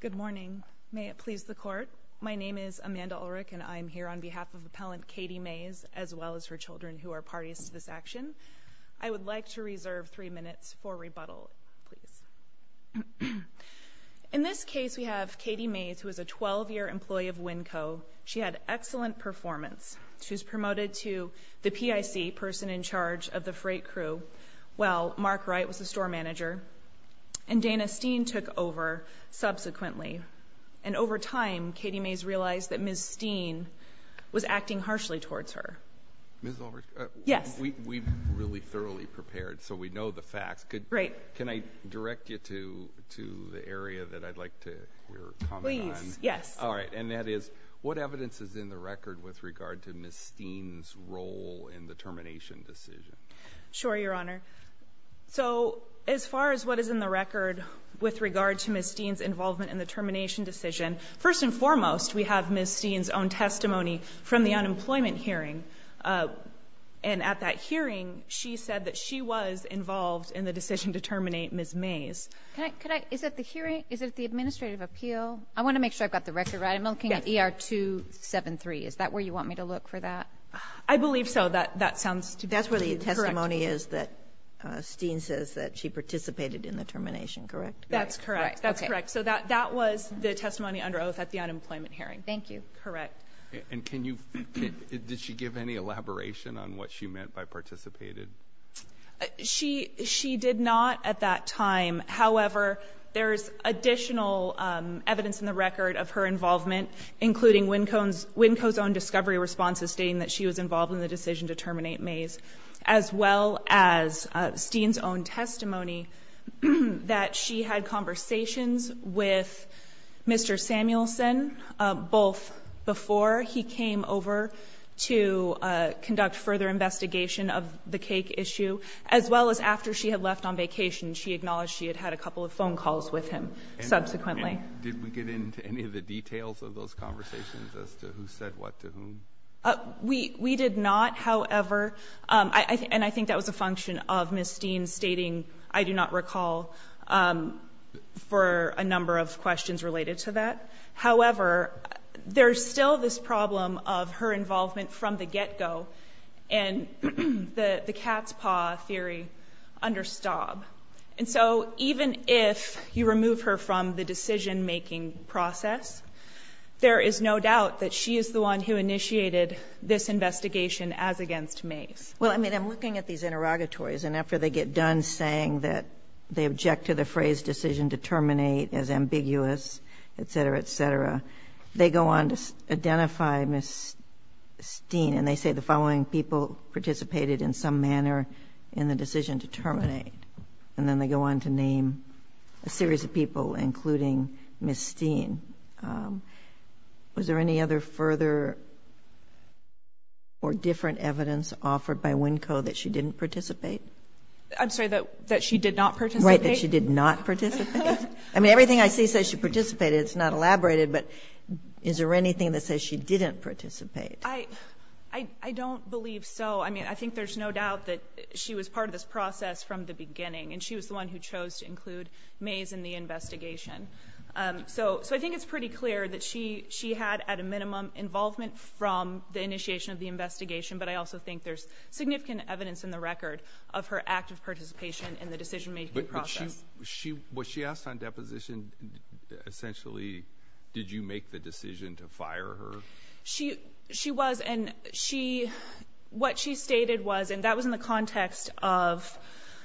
Good morning. May it please the Court. My name is Amanda Ulrich, and I am here on behalf of Appellant Katie Mayes, as well as her children, who are parties to this action. I would like to reserve three minutes for rebuttal, please. In this case, we have Katie Mayes, who is a 12-year employee of Winco. She had excellent performance. She was promoted to the PIC, person in charge of the freight crew, while Mark Wright was the store manager. And Dana Steen took over subsequently. And over time, Katie Mayes realized that Ms. Steen was acting harshly towards her. Ms. Ulrich? Yes. We've really thoroughly prepared, so we know the facts. Right. Can I direct you to the area that I'd like to hear your comment on? Please, yes. All right. And that is, what evidence is in the record with regard to Ms. Steen's role in the termination decision? Sure, Your Honor. So as far as what is in the record with regard to Ms. Steen's involvement in the termination decision, first and foremost, we have Ms. Steen's own testimony from the unemployment hearing. And at that hearing, she said that she was involved in the decision to terminate Ms. Mayes. Is it the hearing? Is it the administrative appeal? I want to make sure I've got the record right. I'm looking at ER 273. Is that where you want me to look for that? I believe so. That sounds correct to me. The testimony is that Steen says that she participated in the termination, correct? That's correct. That's correct. So that was the testimony under oath at the unemployment hearing. Thank you. Correct. And can you ---- did she give any elaboration on what she meant by participated? She did not at that time. However, there is additional evidence in the record of her involvement, including Winco's own discovery responses stating that she was involved in the decision to terminate Mayes, as well as Steen's own testimony that she had conversations with Mr. Samuelson, both before he came over to conduct further investigation of the cake issue, as well as after she had left on vacation. She acknowledged she had had a couple of phone calls with him subsequently. And did we get into any of the details of those conversations as to who said what to whom? We did not, however. And I think that was a function of Ms. Steen stating, I do not recall for a number of questions related to that. However, there's still this problem of her involvement from the get-go and the cat's paw theory under Staub. And so even if you remove her from the decision-making process, there is no doubt that she is the one who initiated this investigation as against Mayes. Well, I mean, I'm looking at these interrogatories, and after they get done saying that they object to the phrase decision to terminate as ambiguous, et cetera, et cetera, they go on to identify Ms. Steen, and they say the following people participated in some manner in the decision to terminate. And then they go on to name a series of people, including Ms. Steen. Was there any other further or different evidence offered by WNCO that she didn't participate? I'm sorry, that she did not participate? Right, that she did not participate. I mean, everything I see says she participated. It's not elaborated, but is there anything that says she didn't participate? I don't believe so. I mean, I think there's no doubt that she was part of this process from the beginning, and she was the one who chose to include Mayes in the investigation. So I think it's pretty clear that she had, at a minimum, involvement from the initiation of the investigation, but I also think there's significant evidence in the record of her active participation in the decision-making process. Was she asked on deposition, essentially, did you make the decision to fire her? She was, and what she stated was, and that was in the context of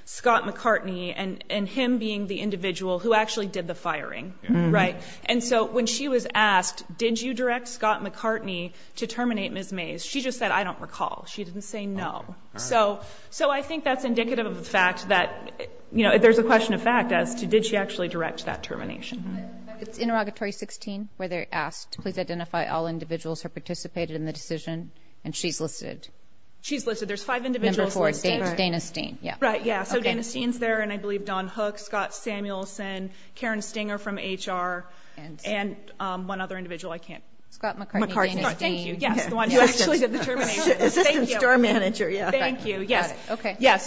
Scott McCartney and him being the individual who actually did the firing, right? And so when she was asked, did you direct Scott McCartney to terminate Ms. Mayes, she just said, I don't recall. She didn't say no. So I think that's indicative of the fact that, you know, there's a question of fact as to did she actually direct that termination. Interrogatory 16, where they're asked, please identify all individuals who participated in the decision, and she's listed. She's listed. There's five individuals listed. Number four, Dana Steen. Right, yeah. So Dana Steen's there, and I believe Don Hook, Scott Samuelson, Karen Stinger from HR, and one other individual I can't. Scott McCartney, Dana Steen. Thank you. Yes, the one who actually did the termination. Assistant store manager, yeah. Thank you. Yes.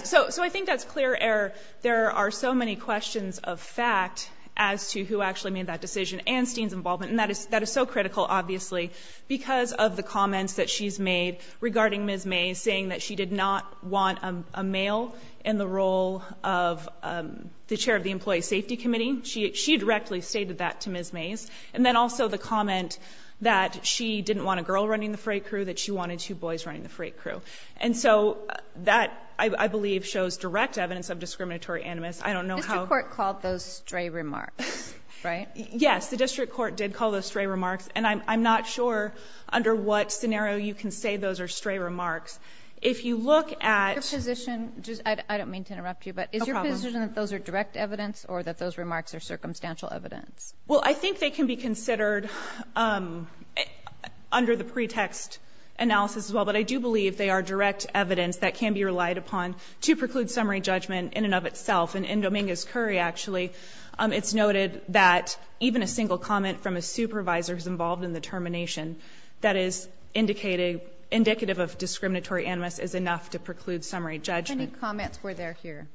So I think that's clear error. There are so many questions of fact as to who actually made that decision, and Steen's involvement, and that is so critical, obviously, because of the comments that she's made regarding Ms. Mayes, saying that she did not want a male in the role of the chair of the employee safety committee. She directly stated that to Ms. Mayes. And then also the comment that she didn't want a girl running the freight crew, that she wanted two boys running the freight crew. And so that, I believe, shows direct evidence of discriminatory animus. I don't know how ---- The district court called those stray remarks, right? Yes, the district court did call those stray remarks, and I'm not sure under what scenario you can say those are stray remarks. If you look at ---- Your position, I don't mean to interrupt you, but is your position that those are direct evidence or that those remarks are circumstantial evidence? Well, I think they can be considered under the pretext analysis as well, but I do believe they are direct evidence that can be relied upon to preclude summary judgment in and of itself. And in Dominguez-Curry, actually, it's noted that even a single comment from a supervisor who's involved in the termination that is indicative of discriminatory animus is enough to preclude summary judgment. How many comments were there here?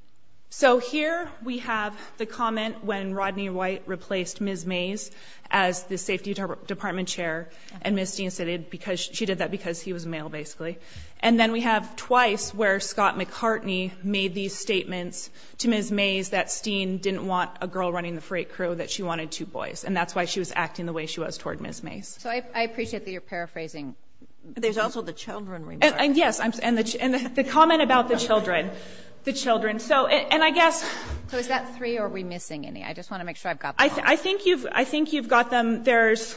So here we have the comment when Rodney White replaced Ms. Mayes as the safety department chair, and Ms. Dean said she did that because he was male, basically. And then we have twice where Scott McCartney made these statements to Ms. Mayes that Steen didn't want a girl running the freight crew, that she wanted two boys, and that's why she was acting the way she was toward Ms. Mayes. So I appreciate that you're paraphrasing. There's also the children remarks. Yes, and the comment about the children, the children. So, and I guess ---- So is that three or are we missing any? I just want to make sure I've got them all. I think you've got them. There's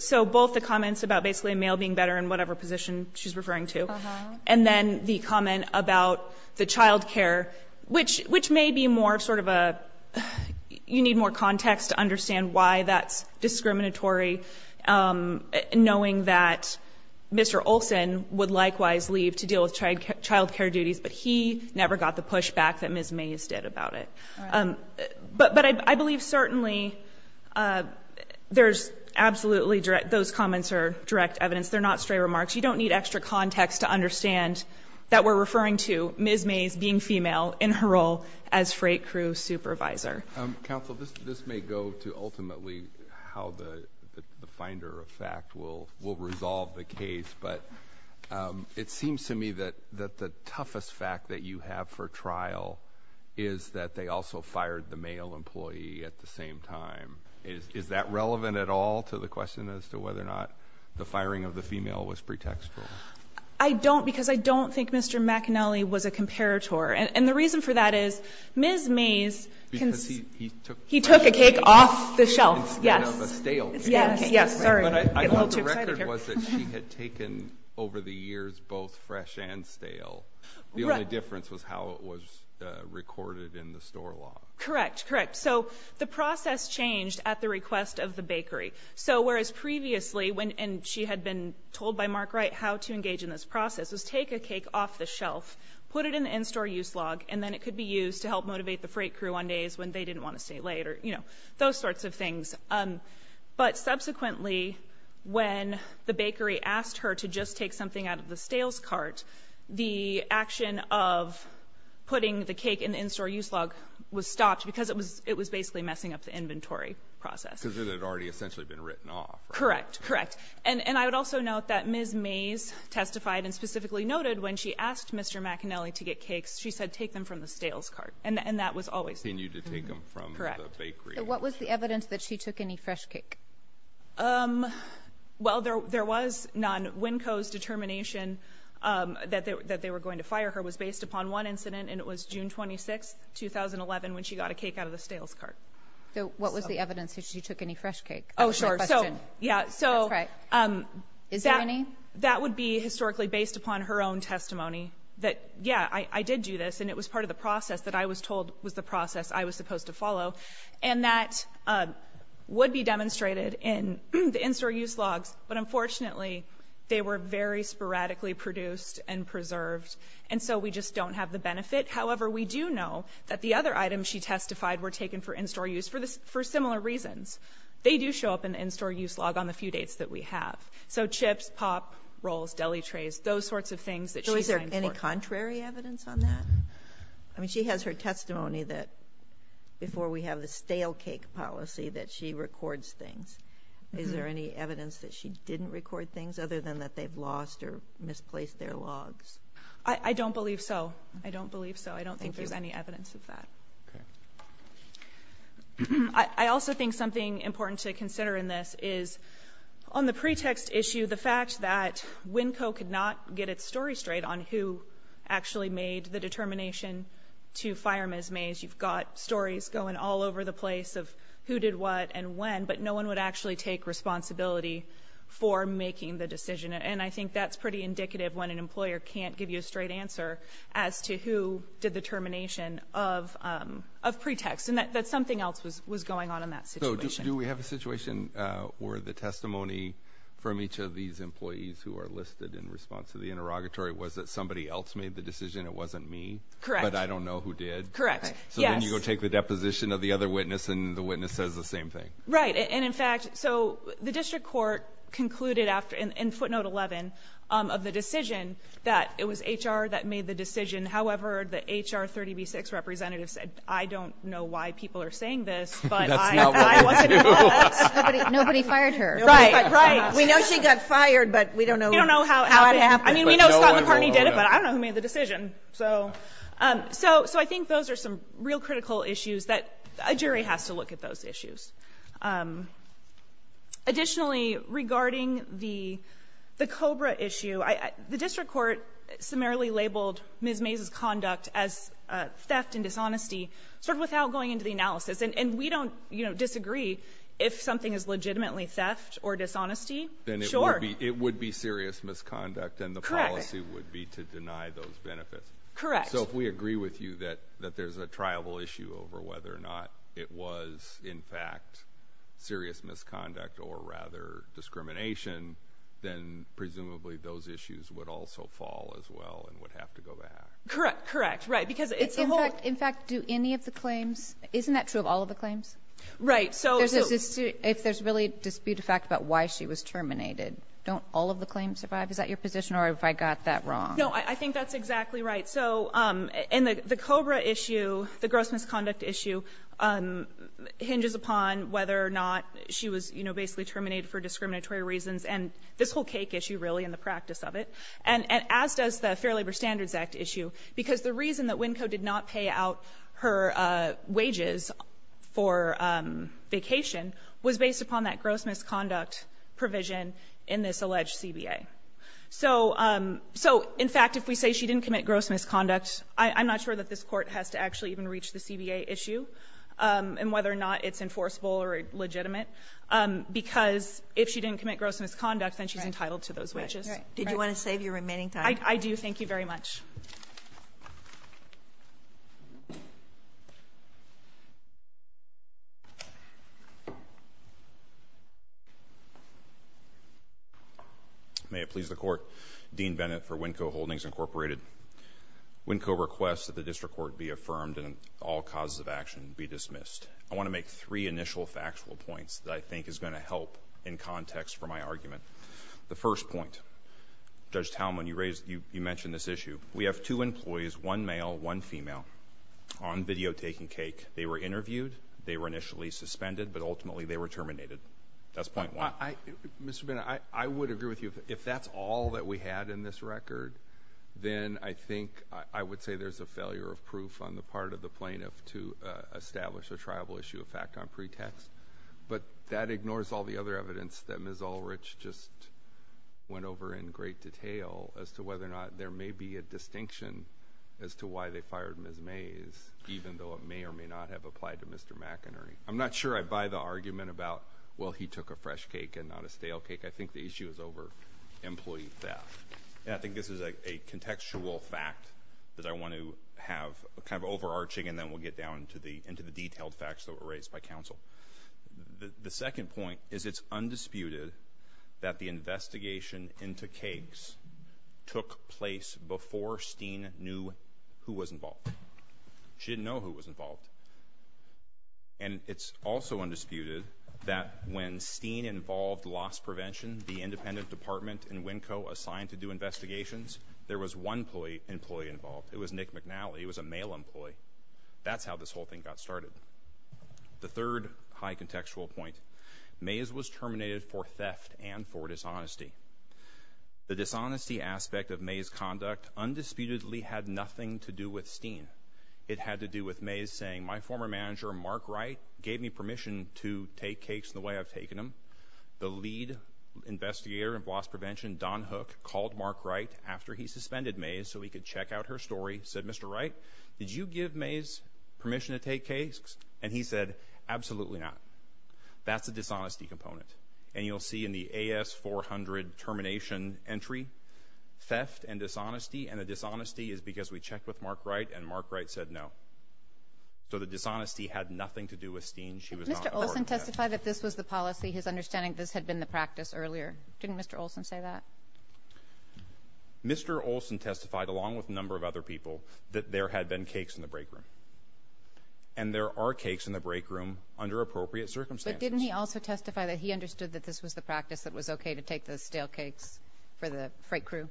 so both the comments about basically a male being better in whatever position she's referring to. Uh-huh. And then the comment about the child care, which may be more sort of a, you need more context to understand why that's discriminatory, knowing that Mr. Olson would likewise leave to deal with child care duties, but he never got the pushback that Ms. Mayes did about it. But I believe certainly there's absolutely direct, those comments are direct evidence. They're not stray remarks. You don't need extra context to understand that we're referring to Ms. Mayes being female in her role as freight crew supervisor. Counsel, this may go to ultimately how the finder of fact will resolve the case, but it seems to me that the toughest fact that you have for trial is that they also fired the male employee at the same time. Is that relevant at all to the question as to whether or not the firing of the female was pretextual? I don't, because I don't think Mr. McAnally was a comparator. And the reason for that is Ms. Mayes, he took a cake off the shelf. Yes. Instead of a stale cake. Yes. Sorry. I get a little too excited here. I thought the record was that she had taken over the years both fresh and stale. The only difference was how it was recorded in the store log. Correct. Correct. So the process changed at the request of the bakery. So whereas previously when she had been told by Mark Wright how to engage in this process was take a cake off the shelf, put it in the in-store use log, and then it could be used to help motivate the freight crew on days when they didn't want to stay late or, you know, those sorts of things. But subsequently when the bakery asked her to just take something out of the stales cart, the action of putting the cake in the in-store use log was stopped because it was basically messing up the inventory process. Because it had already essentially been written off. Correct. Correct. And I would also note that Ms. Mayes testified and specifically noted when she asked Mr. McAnally to get cakes, she said take them from the stales cart. And that was always the case. Continued to take them from the bakery. Correct. So what was the evidence that she took any fresh cake? Well, there was none. Winco's determination that they were going to fire her was based upon one incident, and it was June 26, 2011, when she got a cake out of the stales cart. So what was the evidence that she took any fresh cake? Oh, sure. That's my question. Yeah, so. That's right. Is there any? That would be historically based upon her own testimony that, yeah, I did do this, and it was part of the process that I was told was the process I was supposed to follow. And that would be demonstrated in the in-store use logs, but unfortunately they were very sporadically produced and preserved. And so we just don't have the benefit. However, we do know that the other items she testified were taken for in-store use for similar reasons. They do show up in the in-store use log on the few dates that we have. So chips, pop, rolls, deli trays, those sorts of things that she signed for. So is there any contrary evidence on that? I mean, she has her testimony that before we have the stale cake policy that she records things. Is there any evidence that she didn't record things other than that they've lost or misplaced their logs? I don't believe so. I don't believe so. I don't think there's any evidence of that. Okay. I also think something important to consider in this is on the pretext issue, the fact that WinCo could not get its story straight on who actually made the determination to fire Ms. Mays. You've got stories going all over the place of who did what and when, but no one would actually take responsibility for making the decision. And I think that's pretty indicative when an employer can't give you a straight answer as to who did the termination of pretext, and that something else was going on in that situation. So do we have a situation where the testimony from each of these employees who are listed in response to the interrogatory was that somebody else made the decision, it wasn't me? Correct. But I don't know who did? Correct. Yes. So then you go take the deposition of the other witness and the witness says the same thing? Right. And in fact, so the district court concluded in footnote 11 of the decision that it was HR that made the decision. However, the HR 30B-6 representative said, I don't know why people are saying this, but I wasn't. Nobody fired her. Right. We know she got fired, but we don't know how it happened. I mean, we know Scott McCartney did it, but I don't know who made the decision. So I think those are some real critical issues that a jury has to look at those Additionally, regarding the COBRA issue, the district court summarily labeled Ms. Mays' conduct as theft and dishonesty sort of without going into the analysis. And we don't disagree if something is legitimately theft or dishonesty. Sure. Then it would be serious misconduct and the policy would be to deny those benefits. Correct. So if we agree with you that there's a triable issue over whether or not it was, in fact, serious misconduct or rather discrimination, then presumably those issues would also fall as well and would have to go back. Correct. Correct. Right. In fact, do any of the claims – isn't that true of all of the claims? Right. If there's really dispute of fact about why she was terminated, don't all of the claims survive? Is that your position or have I got that wrong? No, I think that's exactly right. So in the COBRA issue, the gross misconduct issue hinges upon whether or not she was, you know, basically terminated for discriminatory reasons, and this whole cake issue really and the practice of it, and as does the Fair Labor Standards Act issue, because the reason that WNCO did not pay out her wages for vacation was based upon that gross misconduct provision in this alleged CBA. So in fact, if we say she didn't commit gross misconduct, I'm not sure that this Court has to actually even reach the CBA issue and whether or not it's enforceable or legitimate, because if she didn't commit gross misconduct, then she's entitled to those wages. Right. Did you want to save your remaining time? I do. Thank you very much. May it please the Court. Dean Bennett for WNCO Holdings Incorporated. WNCO requests that the district court be affirmed and all causes of action be dismissed. I want to make three initial factual points that I think is going to help in context for my argument. The first point, Judge Talmon, you mentioned this issue. We have two employees, one male, one female, on video taking cake. They were interviewed. They were initially suspended, but ultimately they were terminated. That's point one. Mr. Bennett, I would agree with you. If that's all that we had in this record, then I think I would say there's a failure of proof on the part of the plaintiff to establish a tribal issue of fact on pretext, but that ignores all the other evidence that Ms. Mays just went over in great detail as to whether or not there may be a distinction as to why they fired Ms. Mays, even though it may or may not have applied to Mr. McInerney. I'm not sure I buy the argument about, well, he took a fresh cake and not a stale cake. I think the issue is over employee theft. I think this is a contextual fact that I want to have kind of overarching, and then we'll get down into the detailed facts that were raised by counsel. The second point is it's undisputed that the investigation into cakes took place before Steen knew who was involved. She didn't know who was involved. And it's also undisputed that when Steen involved loss prevention, the independent department and WNCO assigned to do investigations, there was one employee involved. It was Nick McNally. He was a male employee. That's how this whole thing got started. The third high contextual point, Mays was terminated for theft and for dishonesty. The dishonesty aspect of Mays' conduct undisputedly had nothing to do with Steen. It had to do with Mays saying, my former manager, Mark Wright, gave me permission to take cakes the way I've taken them. The lead investigator in loss prevention, Don Hook, called Mark Wright after he suspended Mays so he could check out her story, said, Mr. Wright, did you give Mays permission to take cakes? And he said, absolutely not. That's a dishonesty component. And you'll see in the AS400 termination entry, theft and dishonesty, and the dishonesty is because we checked with Mark Wright and Mark Wright said no. So the dishonesty had nothing to do with Steen. She was not a part of that. Mr. Olson testified that this was the policy. His understanding of this had been the practice earlier. Didn't Mr. Olson say that? Mr. Olson testified, along with a number of other people, that there had been cakes in the break room. And there are cakes in the break room under appropriate circumstances. But didn't he also testify that he understood that this was the practice that was okay to take the stale cakes for the freight crew?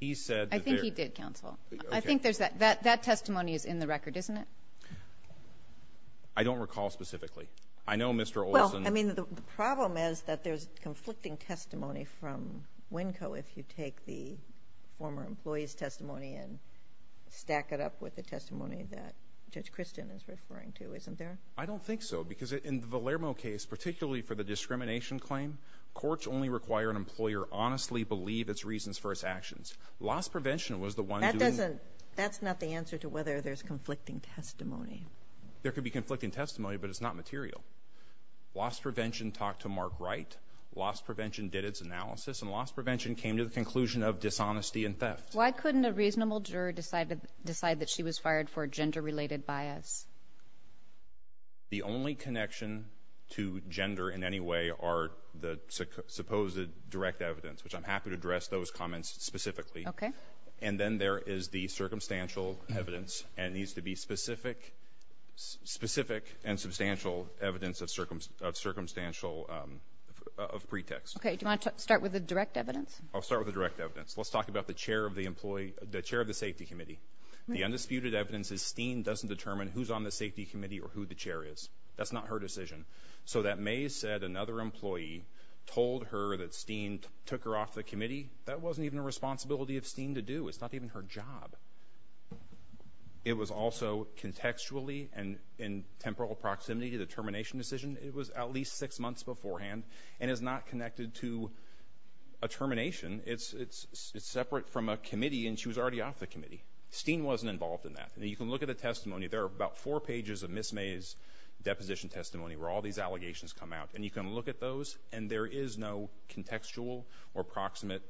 I think he did, Counsel. I think there's that. That testimony is in the record, isn't it? I don't recall specifically. I know Mr. Olson ---- Well, I mean, the problem is that there's conflicting testimony from WNCO if you take the former employee's testimony and stack it up with the testimony that Judge Christian is referring to, isn't there? I don't think so because in the Valermo case, particularly for the discrimination claim, courts only require an employer honestly believe its reasons for its actions. Loss prevention was the one doing ---- That doesn't ---- that's not the answer to whether there's conflicting testimony. There could be conflicting testimony, but it's not material. Loss prevention talked to Mark Wright. Loss prevention did its analysis. And loss prevention came to the conclusion of dishonesty and theft. Why couldn't a reasonable juror decide that she was fired for gender-related bias? The only connection to gender in any way are the supposed direct evidence, which I'm happy to address those comments specifically. Okay. And then there is the circumstantial evidence. And it needs to be specific and substantial evidence of circumstantial ---- of pretext. Okay. Do you want to start with the direct evidence? I'll start with the direct evidence. Let's talk about the chair of the employee ---- the chair of the safety committee. The undisputed evidence is Steen doesn't determine who's on the safety committee or who the chair is. That's not her decision. So that Mays said another employee told her that Steen took her off the committee, that wasn't even a responsibility of Steen to do. It's not even her job. It was also contextually and in temporal proximity to the termination decision. It was at least six months beforehand and is not connected to a termination. It's separate from a committee and she was already off the committee. Steen wasn't involved in that. And you can look at the testimony. There are about four pages of Ms. Mays' deposition testimony where all these allegations come out. And you can look at those and there is no contextual or proximate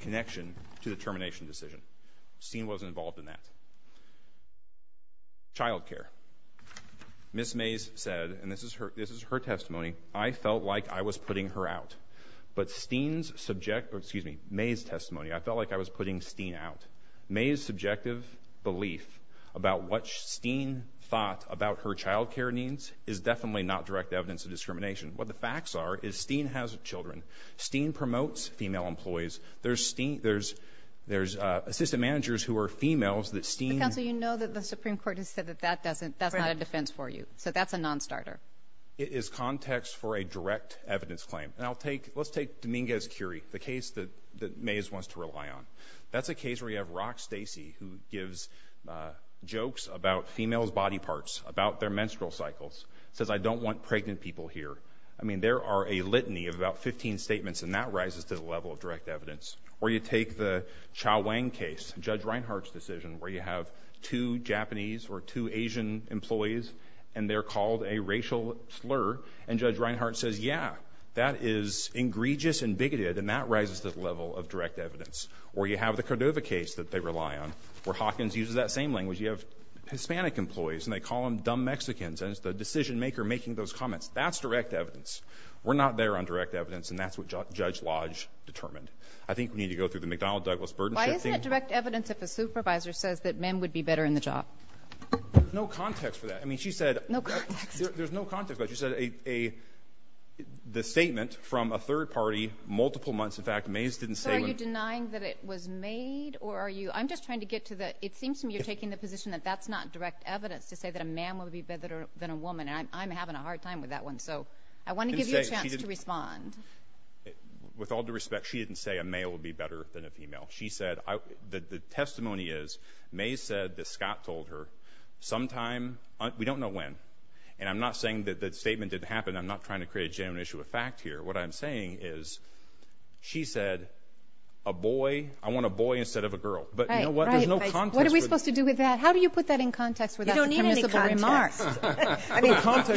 connection to the termination decision. Steen wasn't involved in that. Child care. Ms. Mays said, and this is her testimony, I felt like I was putting her out. But Steen's subject, excuse me, Mays' testimony, I felt like I was putting Steen out. Mays' subjective belief about what Steen thought about her child care needs is definitely not direct evidence of discrimination. What the facts are is Steen has children. Steen promotes female employees. There's Steen, there's assistant managers who are females that Steen. Mr. Counsel, you know that the Supreme Court has said that that doesn't, that's not a defense for you. So that's a nonstarter. It is context for a direct evidence claim. And I'll take, let's take Dominguez-Curie, the case that Mays wants to rely on. That's a case where you have Rock Stacy who gives jokes about females' body parts, about their menstrual cycles. Says, I don't want pregnant people here. I mean, there are a litany of about 15 statements and that rises to the level of direct evidence. Or you take the Chao Wang case, Judge Reinhart's decision, where you have two Japanese or two Asian employees and they're called a racial slur and Judge Reinhart says, yeah, that is egregious and bigoted and that rises to the level of direct evidence. Or you have the Cordova case that they rely on where Hawkins uses that same language. You have Hispanic employees and they call them dumb Mexicans and it's the decision maker making those comments. That's direct evidence. We're not there on direct evidence and that's what Judge Lodge determined. I think we need to go through the McDonnell-Douglas burdenship thing. Why isn't it direct evidence if a supervisor says that men would be better in the job? There's no context for that. I mean, she said. No context. There's no context. But she said a, the statement from a third party multiple months, in fact, Mays didn't say when. So are you denying that it was made or are you, I'm just trying to get to the, it seems to me you're taking the position that that's not direct evidence to say that a man would be better than a woman and I'm having a hard time with that one. So I want to give you a chance to respond. With all due respect, she didn't say a male would be better than a female. She said, the testimony is Mays said that Scott told her sometime, we don't know when, and I'm not saying that the statement didn't happen. I'm not trying to create a genuine issue of fact here. What I'm saying is she said a boy, I want a boy instead of a girl. But you know what? There's no context. What are we supposed to do with that? You don't need any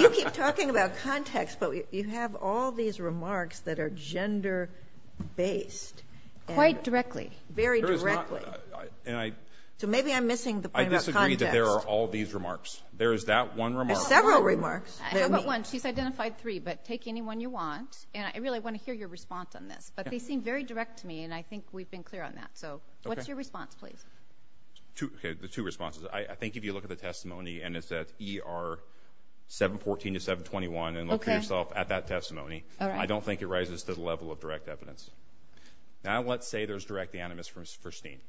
context. You keep talking about context, but you have all these remarks that are gender based. Quite directly. Very directly. So maybe I'm missing the point about context. I disagree that there are all these remarks. There is that one remark. There's several remarks. How about one? She's identified three, but take any one you want. And I really want to hear your response on this. But they seem very direct to me and I think we've been clear on that. So what's your response, please? Okay, the two responses. I think if you look at the testimony and it's at ER 714 to 721, and look for yourself at that testimony, I don't think it rises to the level of direct evidence. Now let's say there's direct animus for Steen.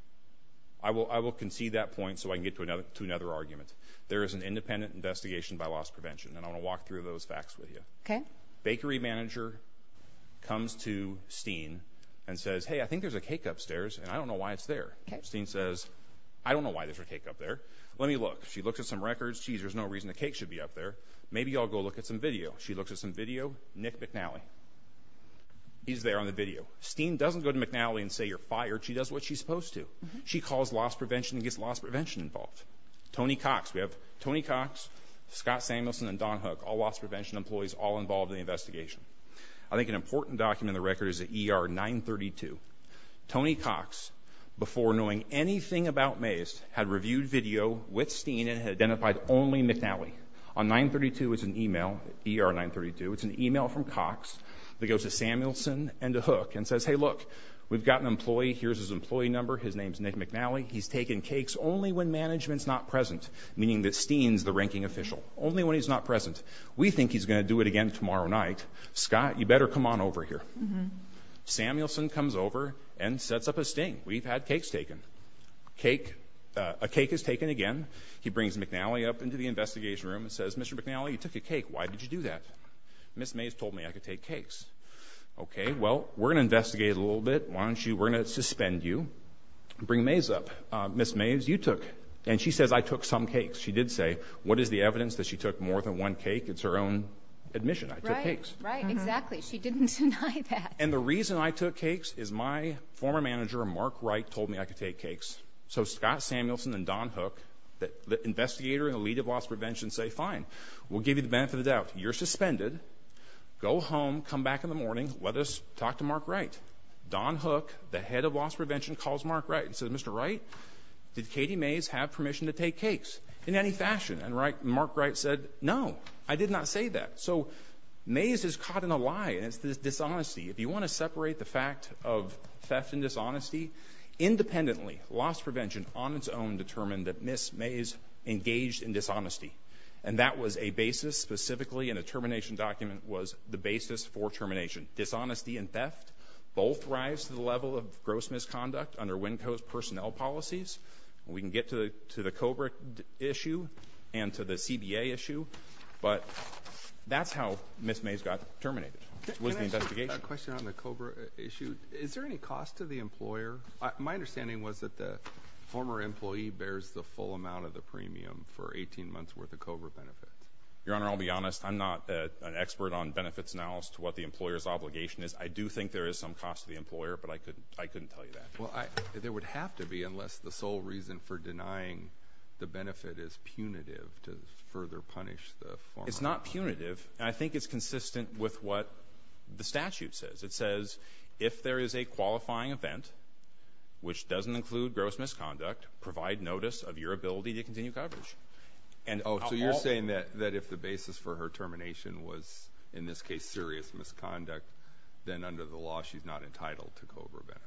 I will concede that point so I can get to another argument. There is an independent investigation by loss prevention, and I want to walk through those facts with you. Bakery manager comes to Steen and says, hey, I think there's a cake upstairs and I don't know why it's there. Steen says, I don't know why there's a cake up there. Let me look. She looks at some records. Geez, there's no reason the cake should be up there. Maybe I'll go look at some video. She looks at some video. Nick McNally. He's there on the video. Steen doesn't go to McNally and say you're fired. She does what she's supposed to. She calls loss prevention and gets loss prevention involved. Tony Cox. We have Tony Cox, Scott Samuelson, and Don Hook, all loss prevention employees, all involved in the investigation. I think an important document in the record is at ER 932. Tony Cox, before knowing anything about Mays, had reviewed video with Steen and had identified only McNally. On 932 is an email, ER 932, it's an email from Cox that goes to Samuelson and to Hook and says, hey, look, we've got an employee. Here's his employee number. His name's Nick McNally. He's taken cakes only when management's not present, meaning that Steen's the ranking official, only when he's not present. We think he's going to do it again tomorrow night. Scott, you better come on over here. Samuelson comes over and sets up a sting. We've had cakes taken. A cake is taken again. He brings McNally up into the investigation room and says, Mr. McNally, you took a cake. Why did you do that? Ms. Mays told me I could take cakes. Okay, well, we're going to investigate a little bit. We're going to suspend you and bring Mays up. Ms. Mays, you took, and she says I took some cakes. She did say, what is the evidence that she took more than one cake? It's her own admission. I took cakes. Right, right, exactly. She didn't deny that. And the reason I took cakes is my former manager, Mark Wright, told me I could take cakes. So Scott Samuelson and Don Hook, the investigator and the lead of loss prevention, say, fine, we'll give you the benefit of the doubt. You're suspended. Go home. Come back in the morning. Let us talk to Mark Wright. Don Hook, the head of loss prevention, calls Mark Wright and says, Mr. Wright, did Katie Mays have permission to take cakes in any fashion? And Mark Wright said, no, I did not say that. So Mays is caught in a lie, and it's dishonesty. If you want to separate the fact of theft and dishonesty, independently, loss prevention on its own determined that Ms. Mays engaged in dishonesty, and that was a basis specifically in a termination document was the basis for termination. Dishonesty and theft both rise to the level of gross misconduct under WinCo's personnel policies. We can get to the COBRA issue and to the CBA issue, but that's how Ms. Mays got terminated was the investigation. Can I ask you a question on the COBRA issue? Is there any cost to the employer? My understanding was that the former employee bears the full amount of the premium for 18 months' worth of COBRA benefits. Your Honor, I'll be honest. I'm not an expert on benefits now as to what the employer's obligation is. I do think there is some cost to the employer, but I couldn't tell you that. Well, there would have to be unless the sole reason for denying the benefit is punitive to further punish the former. It's not punitive, and I think it's consistent with what the statute says. It says if there is a qualifying event, which doesn't include gross misconduct, provide notice of your ability to continue coverage. Oh, so you're saying that if the basis for her termination was, in this case, serious misconduct, then under the law she's not entitled to COBRA benefits.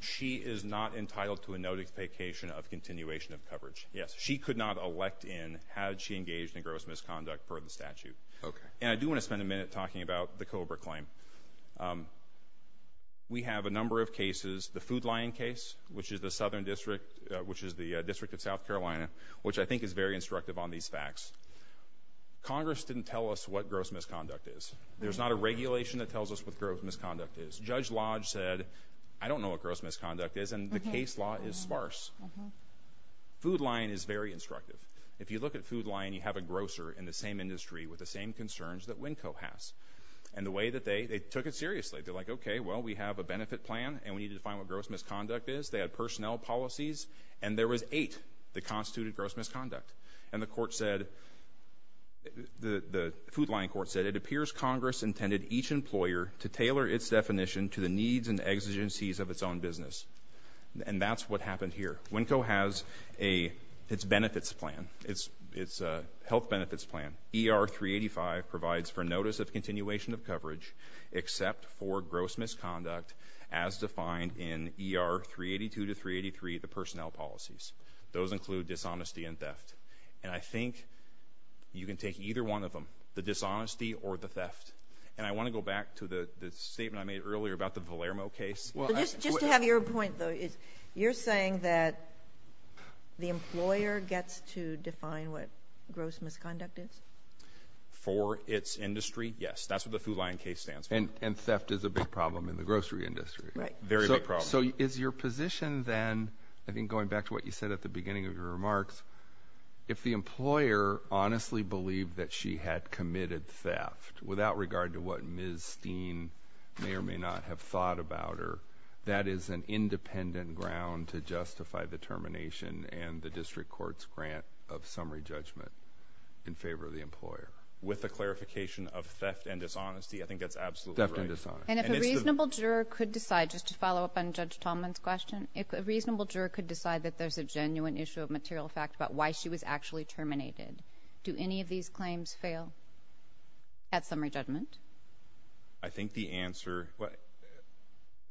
She is not entitled to a notification of continuation of coverage, yes. She could not elect in had she engaged in gross misconduct per the statute. Okay. And I do want to spend a minute talking about the COBRA claim. We have a number of cases. The Food Lion case, which is the Southern District, which is the District of South Carolina, which I think is very instructive on these facts. Congress didn't tell us what gross misconduct is. There's not a regulation that tells us what gross misconduct is. Judge Lodge said, I don't know what gross misconduct is, and the case law is sparse. Food Lion is very instructive. If you look at Food Lion, you have a grocer in the same industry with the same concerns that Winco has. And the way that they took it seriously, they're like, okay, well, we have a benefit plan, and we need to define what gross misconduct is. They had personnel policies, and there was eight that constituted gross misconduct. And the court said, the Food Lion court said, it appears Congress intended each employer to tailor its definition to the needs and exigencies of its own business. And that's what happened here. Winco has its benefits plan, its health benefits plan. ER 385 provides for notice of continuation of coverage except for gross misconduct as defined in ER 382 to 383, the personnel policies. Those include dishonesty and theft. And I think you can take either one of them, the dishonesty or the theft. And I want to go back to the statement I made earlier about the Valermo case. Just to have your point, though, you're saying that the employer gets to define what gross misconduct is? For its industry, yes. That's what the Food Lion case stands for. And theft is a big problem in the grocery industry. Right. Very big problem. So is your position then, I think going back to what you said at the beginning of your remarks, if the employer honestly believed that she had committed theft, without regard to what Ms. Steen may or may not have thought about her, that is an independent ground to justify the termination and the district court's grant of summary judgment in favor of the employer? With the clarification of theft and dishonesty, I think that's absolutely right. Theft and dishonesty. And if a reasonable juror could decide, just to follow up on Judge Tallman's question, if a reasonable juror could decide that there's a genuine issue of material fact about why she was actually terminated, do any of these claims fail at summary judgment? I think the answer—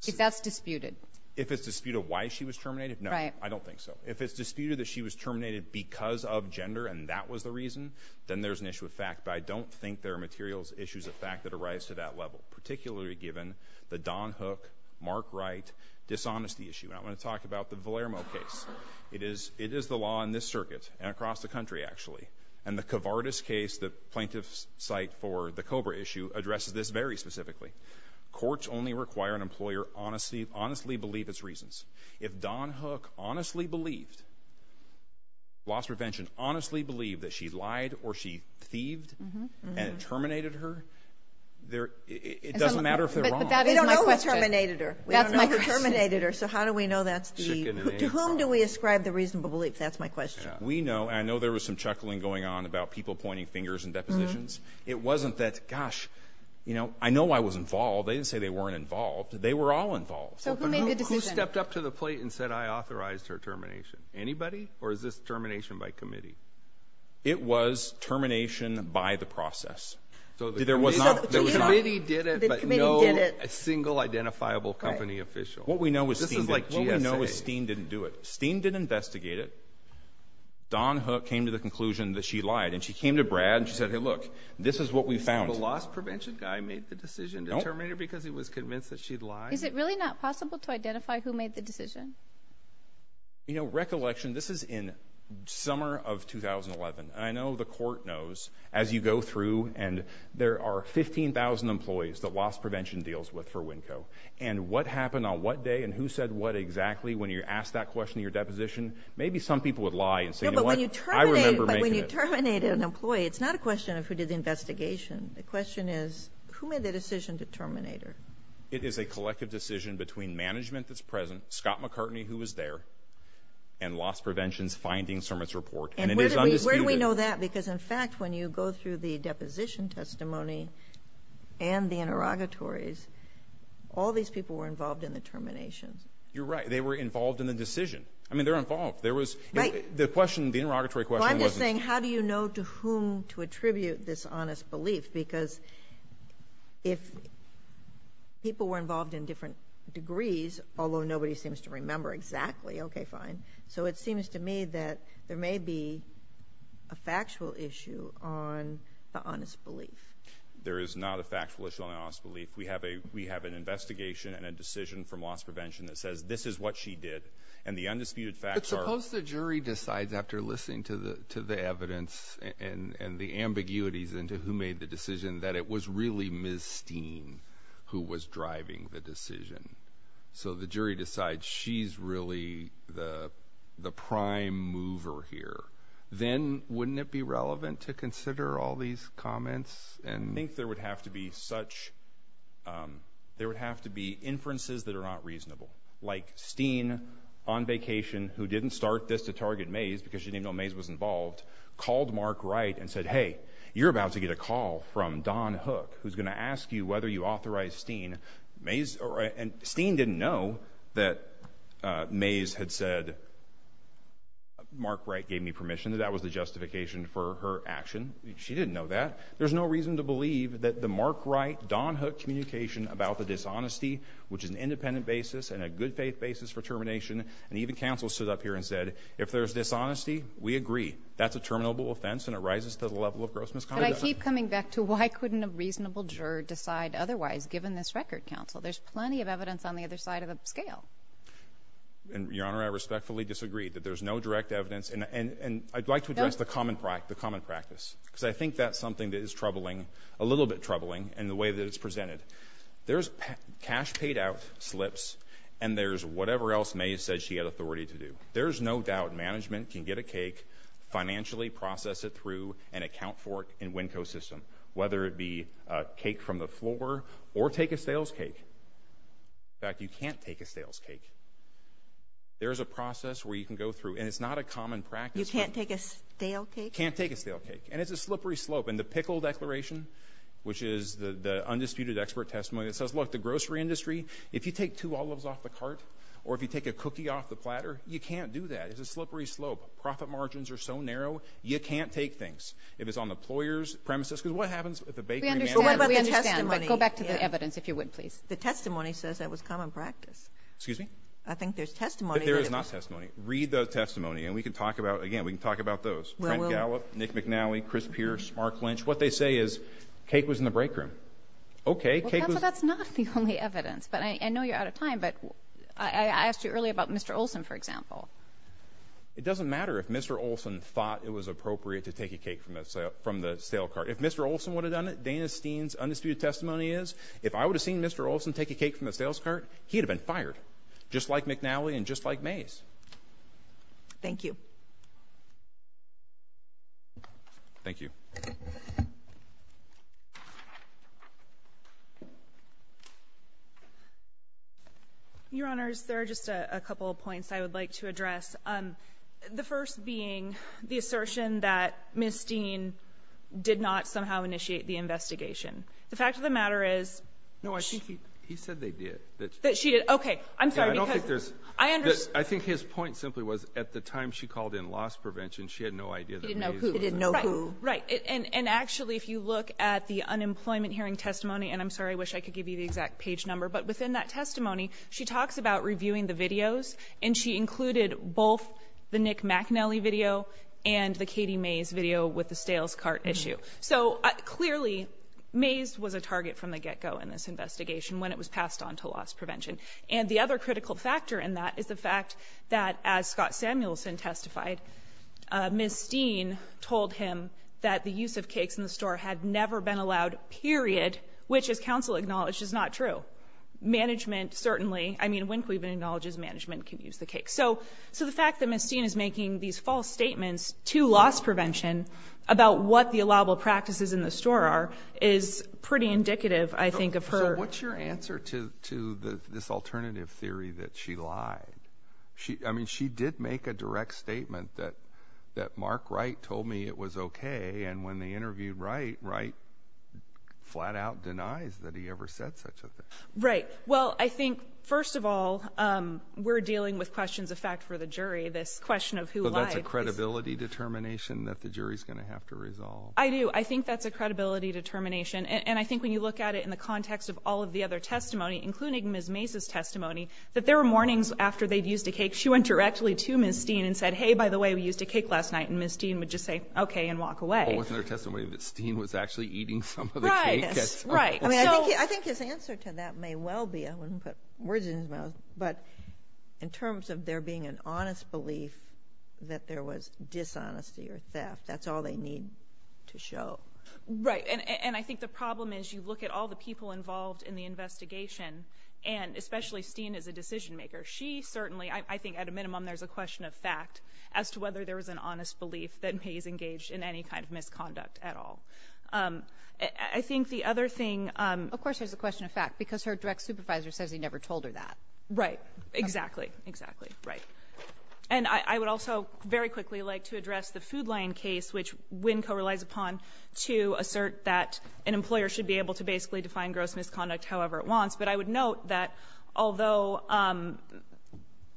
If that's disputed. If it's disputed why she was terminated? Right. No, I don't think so. If it's disputed that she was terminated because of gender and that was the reason, then there's an issue of fact. But I don't think there are materials issues of fact that arise to that level, particularly given the Don Hook, Mark Wright, dishonesty issue. And I want to talk about the Valermo case. It is the law in this circuit and across the country, actually. And the Covardis case, the plaintiff's site for the Cobra issue, addresses this very specifically. Courts only require an employer honestly believe its reasons. If Don Hook honestly believed, lost prevention, honestly believed that she lied or she thieved and terminated her, it doesn't matter if they're wrong. But that is my question. We don't know who terminated her. That's my question. We don't know who terminated her, so how do we know that's the— To whom do we ascribe the reasonable belief? That's my question. We know, and I know there was some chuckling going on about people pointing fingers and depositions. It wasn't that, gosh, you know, I know I was involved. They didn't say they weren't involved. They were all involved. So who made the decision? Who stepped up to the plate and said, I authorized her termination? Anybody? Or is this termination by committee? It was termination by the process. So the committee did it, but no single identifiable company official. This is like GSA. What we know is Steen didn't do it. Steen didn't investigate it. Don Hook came to the conclusion that she lied. And she came to Brad and she said, hey, look, this is what we found. So the lost prevention guy made the decision to terminate her because he was convinced that she'd lied? Is it really not possible to identify who made the decision? You know, recollection, this is in summer of 2011. And I know the court knows, as you go through, and there are 15,000 employees that lost prevention deals with for WNCO. And what happened on what day and who said what exactly when you're asked that question in your deposition, maybe some people would lie and say, you know what, I remember making it. But when you terminate an employee, it's not a question of who did the investigation. The question is, who made the decision to terminate her? It is a collective decision between management that's present, Scott McCartney, who was there, and lost prevention's findings from its report. And it is undisputed. How do we know that? Because, in fact, when you go through the deposition testimony and the interrogatories, all these people were involved in the terminations. You're right. They were involved in the decision. I mean, they're involved. There was the interrogatory question. Well, I'm just saying, how do you know to whom to attribute this honest belief? Because if people were involved in different degrees, although nobody seems to remember exactly, okay, fine. So it seems to me that there may be a factual issue on the honest belief. There is not a factual issue on the honest belief. We have an investigation and a decision from loss prevention that says this is what she did. And the undisputed facts are – But suppose the jury decides, after listening to the evidence and the ambiguities into who made the decision, that it was really Ms. Steen who was driving the decision. So the jury decides she's really the prime mover here. Then wouldn't it be relevant to consider all these comments? I think there would have to be such – there would have to be inferences that are not reasonable, like Steen, on vacation, who didn't start this to target Mays because she didn't even know Mays was involved, called Mark Wright and said, hey, you're about to get a call from Don Hook, who's going to ask you whether you authorized Steen. And Steen didn't know that Mays had said, Mark Wright gave me permission, that that was the justification for her action. She didn't know that. There's no reason to believe that the Mark Wright, Don Hook communication about the dishonesty, which is an independent basis and a good faith basis for termination, and even counsel stood up here and said, if there's dishonesty, we agree. That's a terminable offense and it rises to the level of gross misconduct. But I keep coming back to why couldn't a reasonable juror decide otherwise, given this record, counsel? There's plenty of evidence on the other side of the scale. Your Honor, I respectfully disagree that there's no direct evidence. And I'd like to address the common practice because I think that's something that is troubling, a little bit troubling in the way that it's presented. There's cash paid out slips and there's whatever else Mays said she had authority to do. There is no doubt management can get a cake, financially process it through and account for it in WinCo system, whether it be a cake from the floor or take a stale's cake. In fact, you can't take a stale's cake. There is a process where you can go through, and it's not a common practice. You can't take a stale cake? Can't take a stale cake. And it's a slippery slope. And the Pickle Declaration, which is the undisputed expert testimony that says, look, the grocery industry, if you take two olives off the cart or if you take a cookie off the platter, you can't do that. It's a slippery slope. Profit margins are so narrow, you can't take things. If it's on the ployer's premises, because what happens at the bakery? We understand. Go back to the evidence, if you would, please. The testimony says that was common practice. Excuse me? I think there's testimony. There is not testimony. Read the testimony, and we can talk about, again, we can talk about those. Trent Gallop, Nick McNally, Chris Pierce, Mark Lynch. What they say is cake was in the break room. Okay, cake was. Well, that's not the only evidence. But I know you're out of time, but I asked you earlier about Mr. Olson, for example. It doesn't matter if Mr. Olson thought it was appropriate to take a cake from the sale cart. If Mr. Olson would have done it, Dana Steen's undisputed testimony is, if I would have seen Mr. Olson take a cake from the sales cart, he'd have been fired, just like McNally and just like Mays. Thank you. Thank you. Your Honors, there are just a couple of points I would like to address. The first being the assertion that Ms. Steen did not somehow initiate the investigation. The fact of the matter is she did. No, I think he said they did. That she did. Okay. I'm sorry, because I understand. I think his point simply was at the time she called in loss prevention, she had no idea that Mays was there. He didn't know who. Right. And actually, if you look at the unemployment hearing testimony, and I'm sorry, I wish I could give you the exact page number, but within that testimony, she talks about reviewing the videos, and she included both the Nick McNally video and the Katie Mays video with the sales cart issue. So clearly, Mays was a target from the get-go in this investigation when it was passed on to loss prevention. And the other critical factor in that is the fact that, as Scott Samuelson testified, Ms. Steen told him that the use of cakes in the store had never been allowed, period, which, as counsel acknowledged, is not true. Management certainly, I mean, Wynklee even acknowledges management can use the cakes. So the fact that Ms. Steen is making these false statements to loss prevention about what the allowable practices in the store are is pretty indicative, I think, of her. So what's your answer to this alternative theory that she lied? I mean, she did make a direct statement that Mark Wright told me it was okay, and when they interviewed Wright, Wright flat-out denies that he ever said such a thing. Right. Well, I think, first of all, we're dealing with questions of fact for the jury. This question of who lied is ---- But that's a credibility determination that the jury's going to have to resolve. I do. I think that's a credibility determination. And I think when you look at it in the context of all of the other testimony, including Ms. Mays' testimony, that there were mornings after they'd used a cake, she went directly to Ms. Steen and said, hey, by the way, we used a cake last night, and Ms. Steen would just say, okay, and walk away. Well, with her testimony that Steen was actually eating some of the cakes. Right, right. I mean, I think his answer to that may well be, I wouldn't put words in his mouth, but in terms of there being an honest belief that there was dishonesty or theft, that's all they need to show. Right, and I think the problem is you look at all the people involved in the investigation, and especially Steen as a decision maker, she certainly, I think at a minimum there's a question of fact as to whether there was an honest belief that Mays engaged in any kind of misconduct at all. I think the other thing ---- Of course there's a question of fact, because her direct supervisor says he never told her that. Right. Exactly. Exactly. Right. And I would also very quickly like to address the Food Lion case, which Wynne co-relies upon to assert that an employer should be able to basically define gross misconduct however it wants. But I would note that although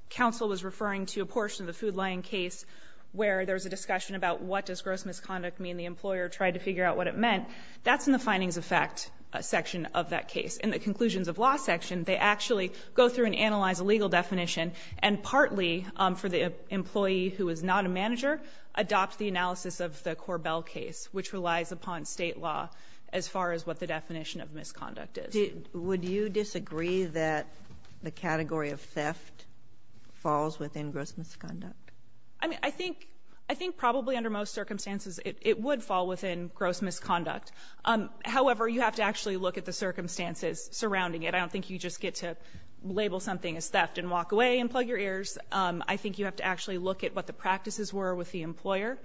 counsel was referring to a portion of the Food Lion case where there was a discussion about what does gross misconduct mean, the employer tried to figure out what it meant, that's in the findings of fact section of that case. In the conclusions of law section, they actually go through and analyze a legal definition and partly for the employee who is not a manager, adopt the analysis of the Korbel case, which relies upon State law as far as what the definition of misconduct is. Would you disagree that the category of theft falls within gross misconduct? I mean, I think probably under most circumstances it would fall within gross misconduct. However, you have to actually look at the circumstances surrounding it. I don't think you just get to label something as theft and walk away and plug your ears. I think you have to actually look at what the practices were with the employer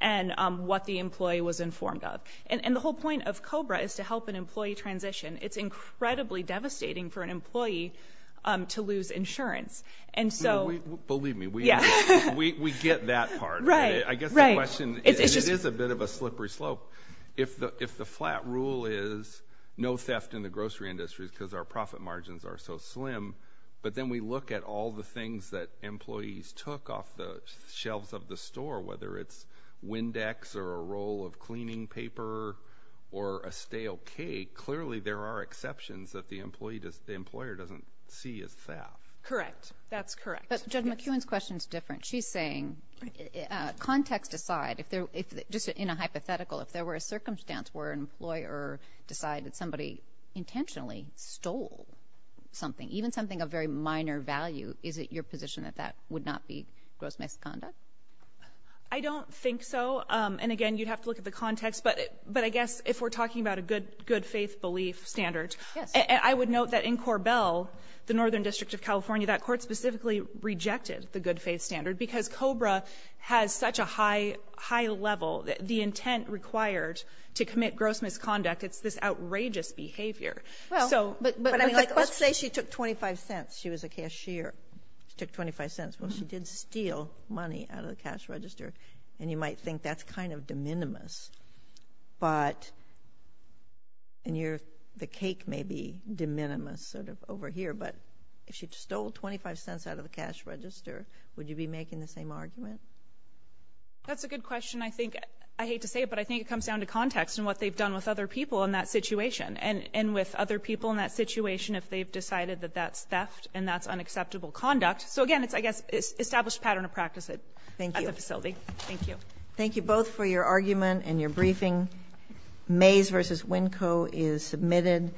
and what the employee was informed of. And the whole point of COBRA is to help an employee transition. It's incredibly devastating for an employee to lose insurance. Believe me, we get that part. I guess the question is it is a bit of a slippery slope. If the flat rule is no theft in the grocery industry because our profit margins are so slim, but then we look at all the things that employees took off the shelves of the store, whether it's Windex or a roll of cleaning paper or a stale cake, clearly there are exceptions that the employer doesn't see as theft. Correct. That's correct. But Judge McEwen's question is different. She's saying context aside, just in a hypothetical, if there were a circumstance where an employer decided somebody intentionally stole something, even something of very minor value, is it your position that that would not be gross misconduct? I don't think so. And, again, you'd have to look at the context. But I guess if we're talking about a good-faith belief standard, I would note that in Corbell, the Northern District of California, that court specifically rejected the good-faith standard because COBRA has such a high level, the intent required to commit gross misconduct, it's this outrageous behavior. Well, but let's say she took 25 cents. She was a cashier. She took 25 cents. Well, she did steal money out of the cash register, and you might think that's kind of de minimis. But, and the cake may be de minimis sort of over here, but if she stole 25 cents out of the cash register, would you be making the same argument? That's a good question. I hate to say it, but I think it comes down to context and what they've done with other people in that situation, and with other people in that situation if they've decided that that's theft and that's unacceptable conduct. So, again, it's, I guess, established pattern of practice at the facility. Thank you. Thank you. Thank you both for your argument and your briefing. Mays v. Winco is submitted.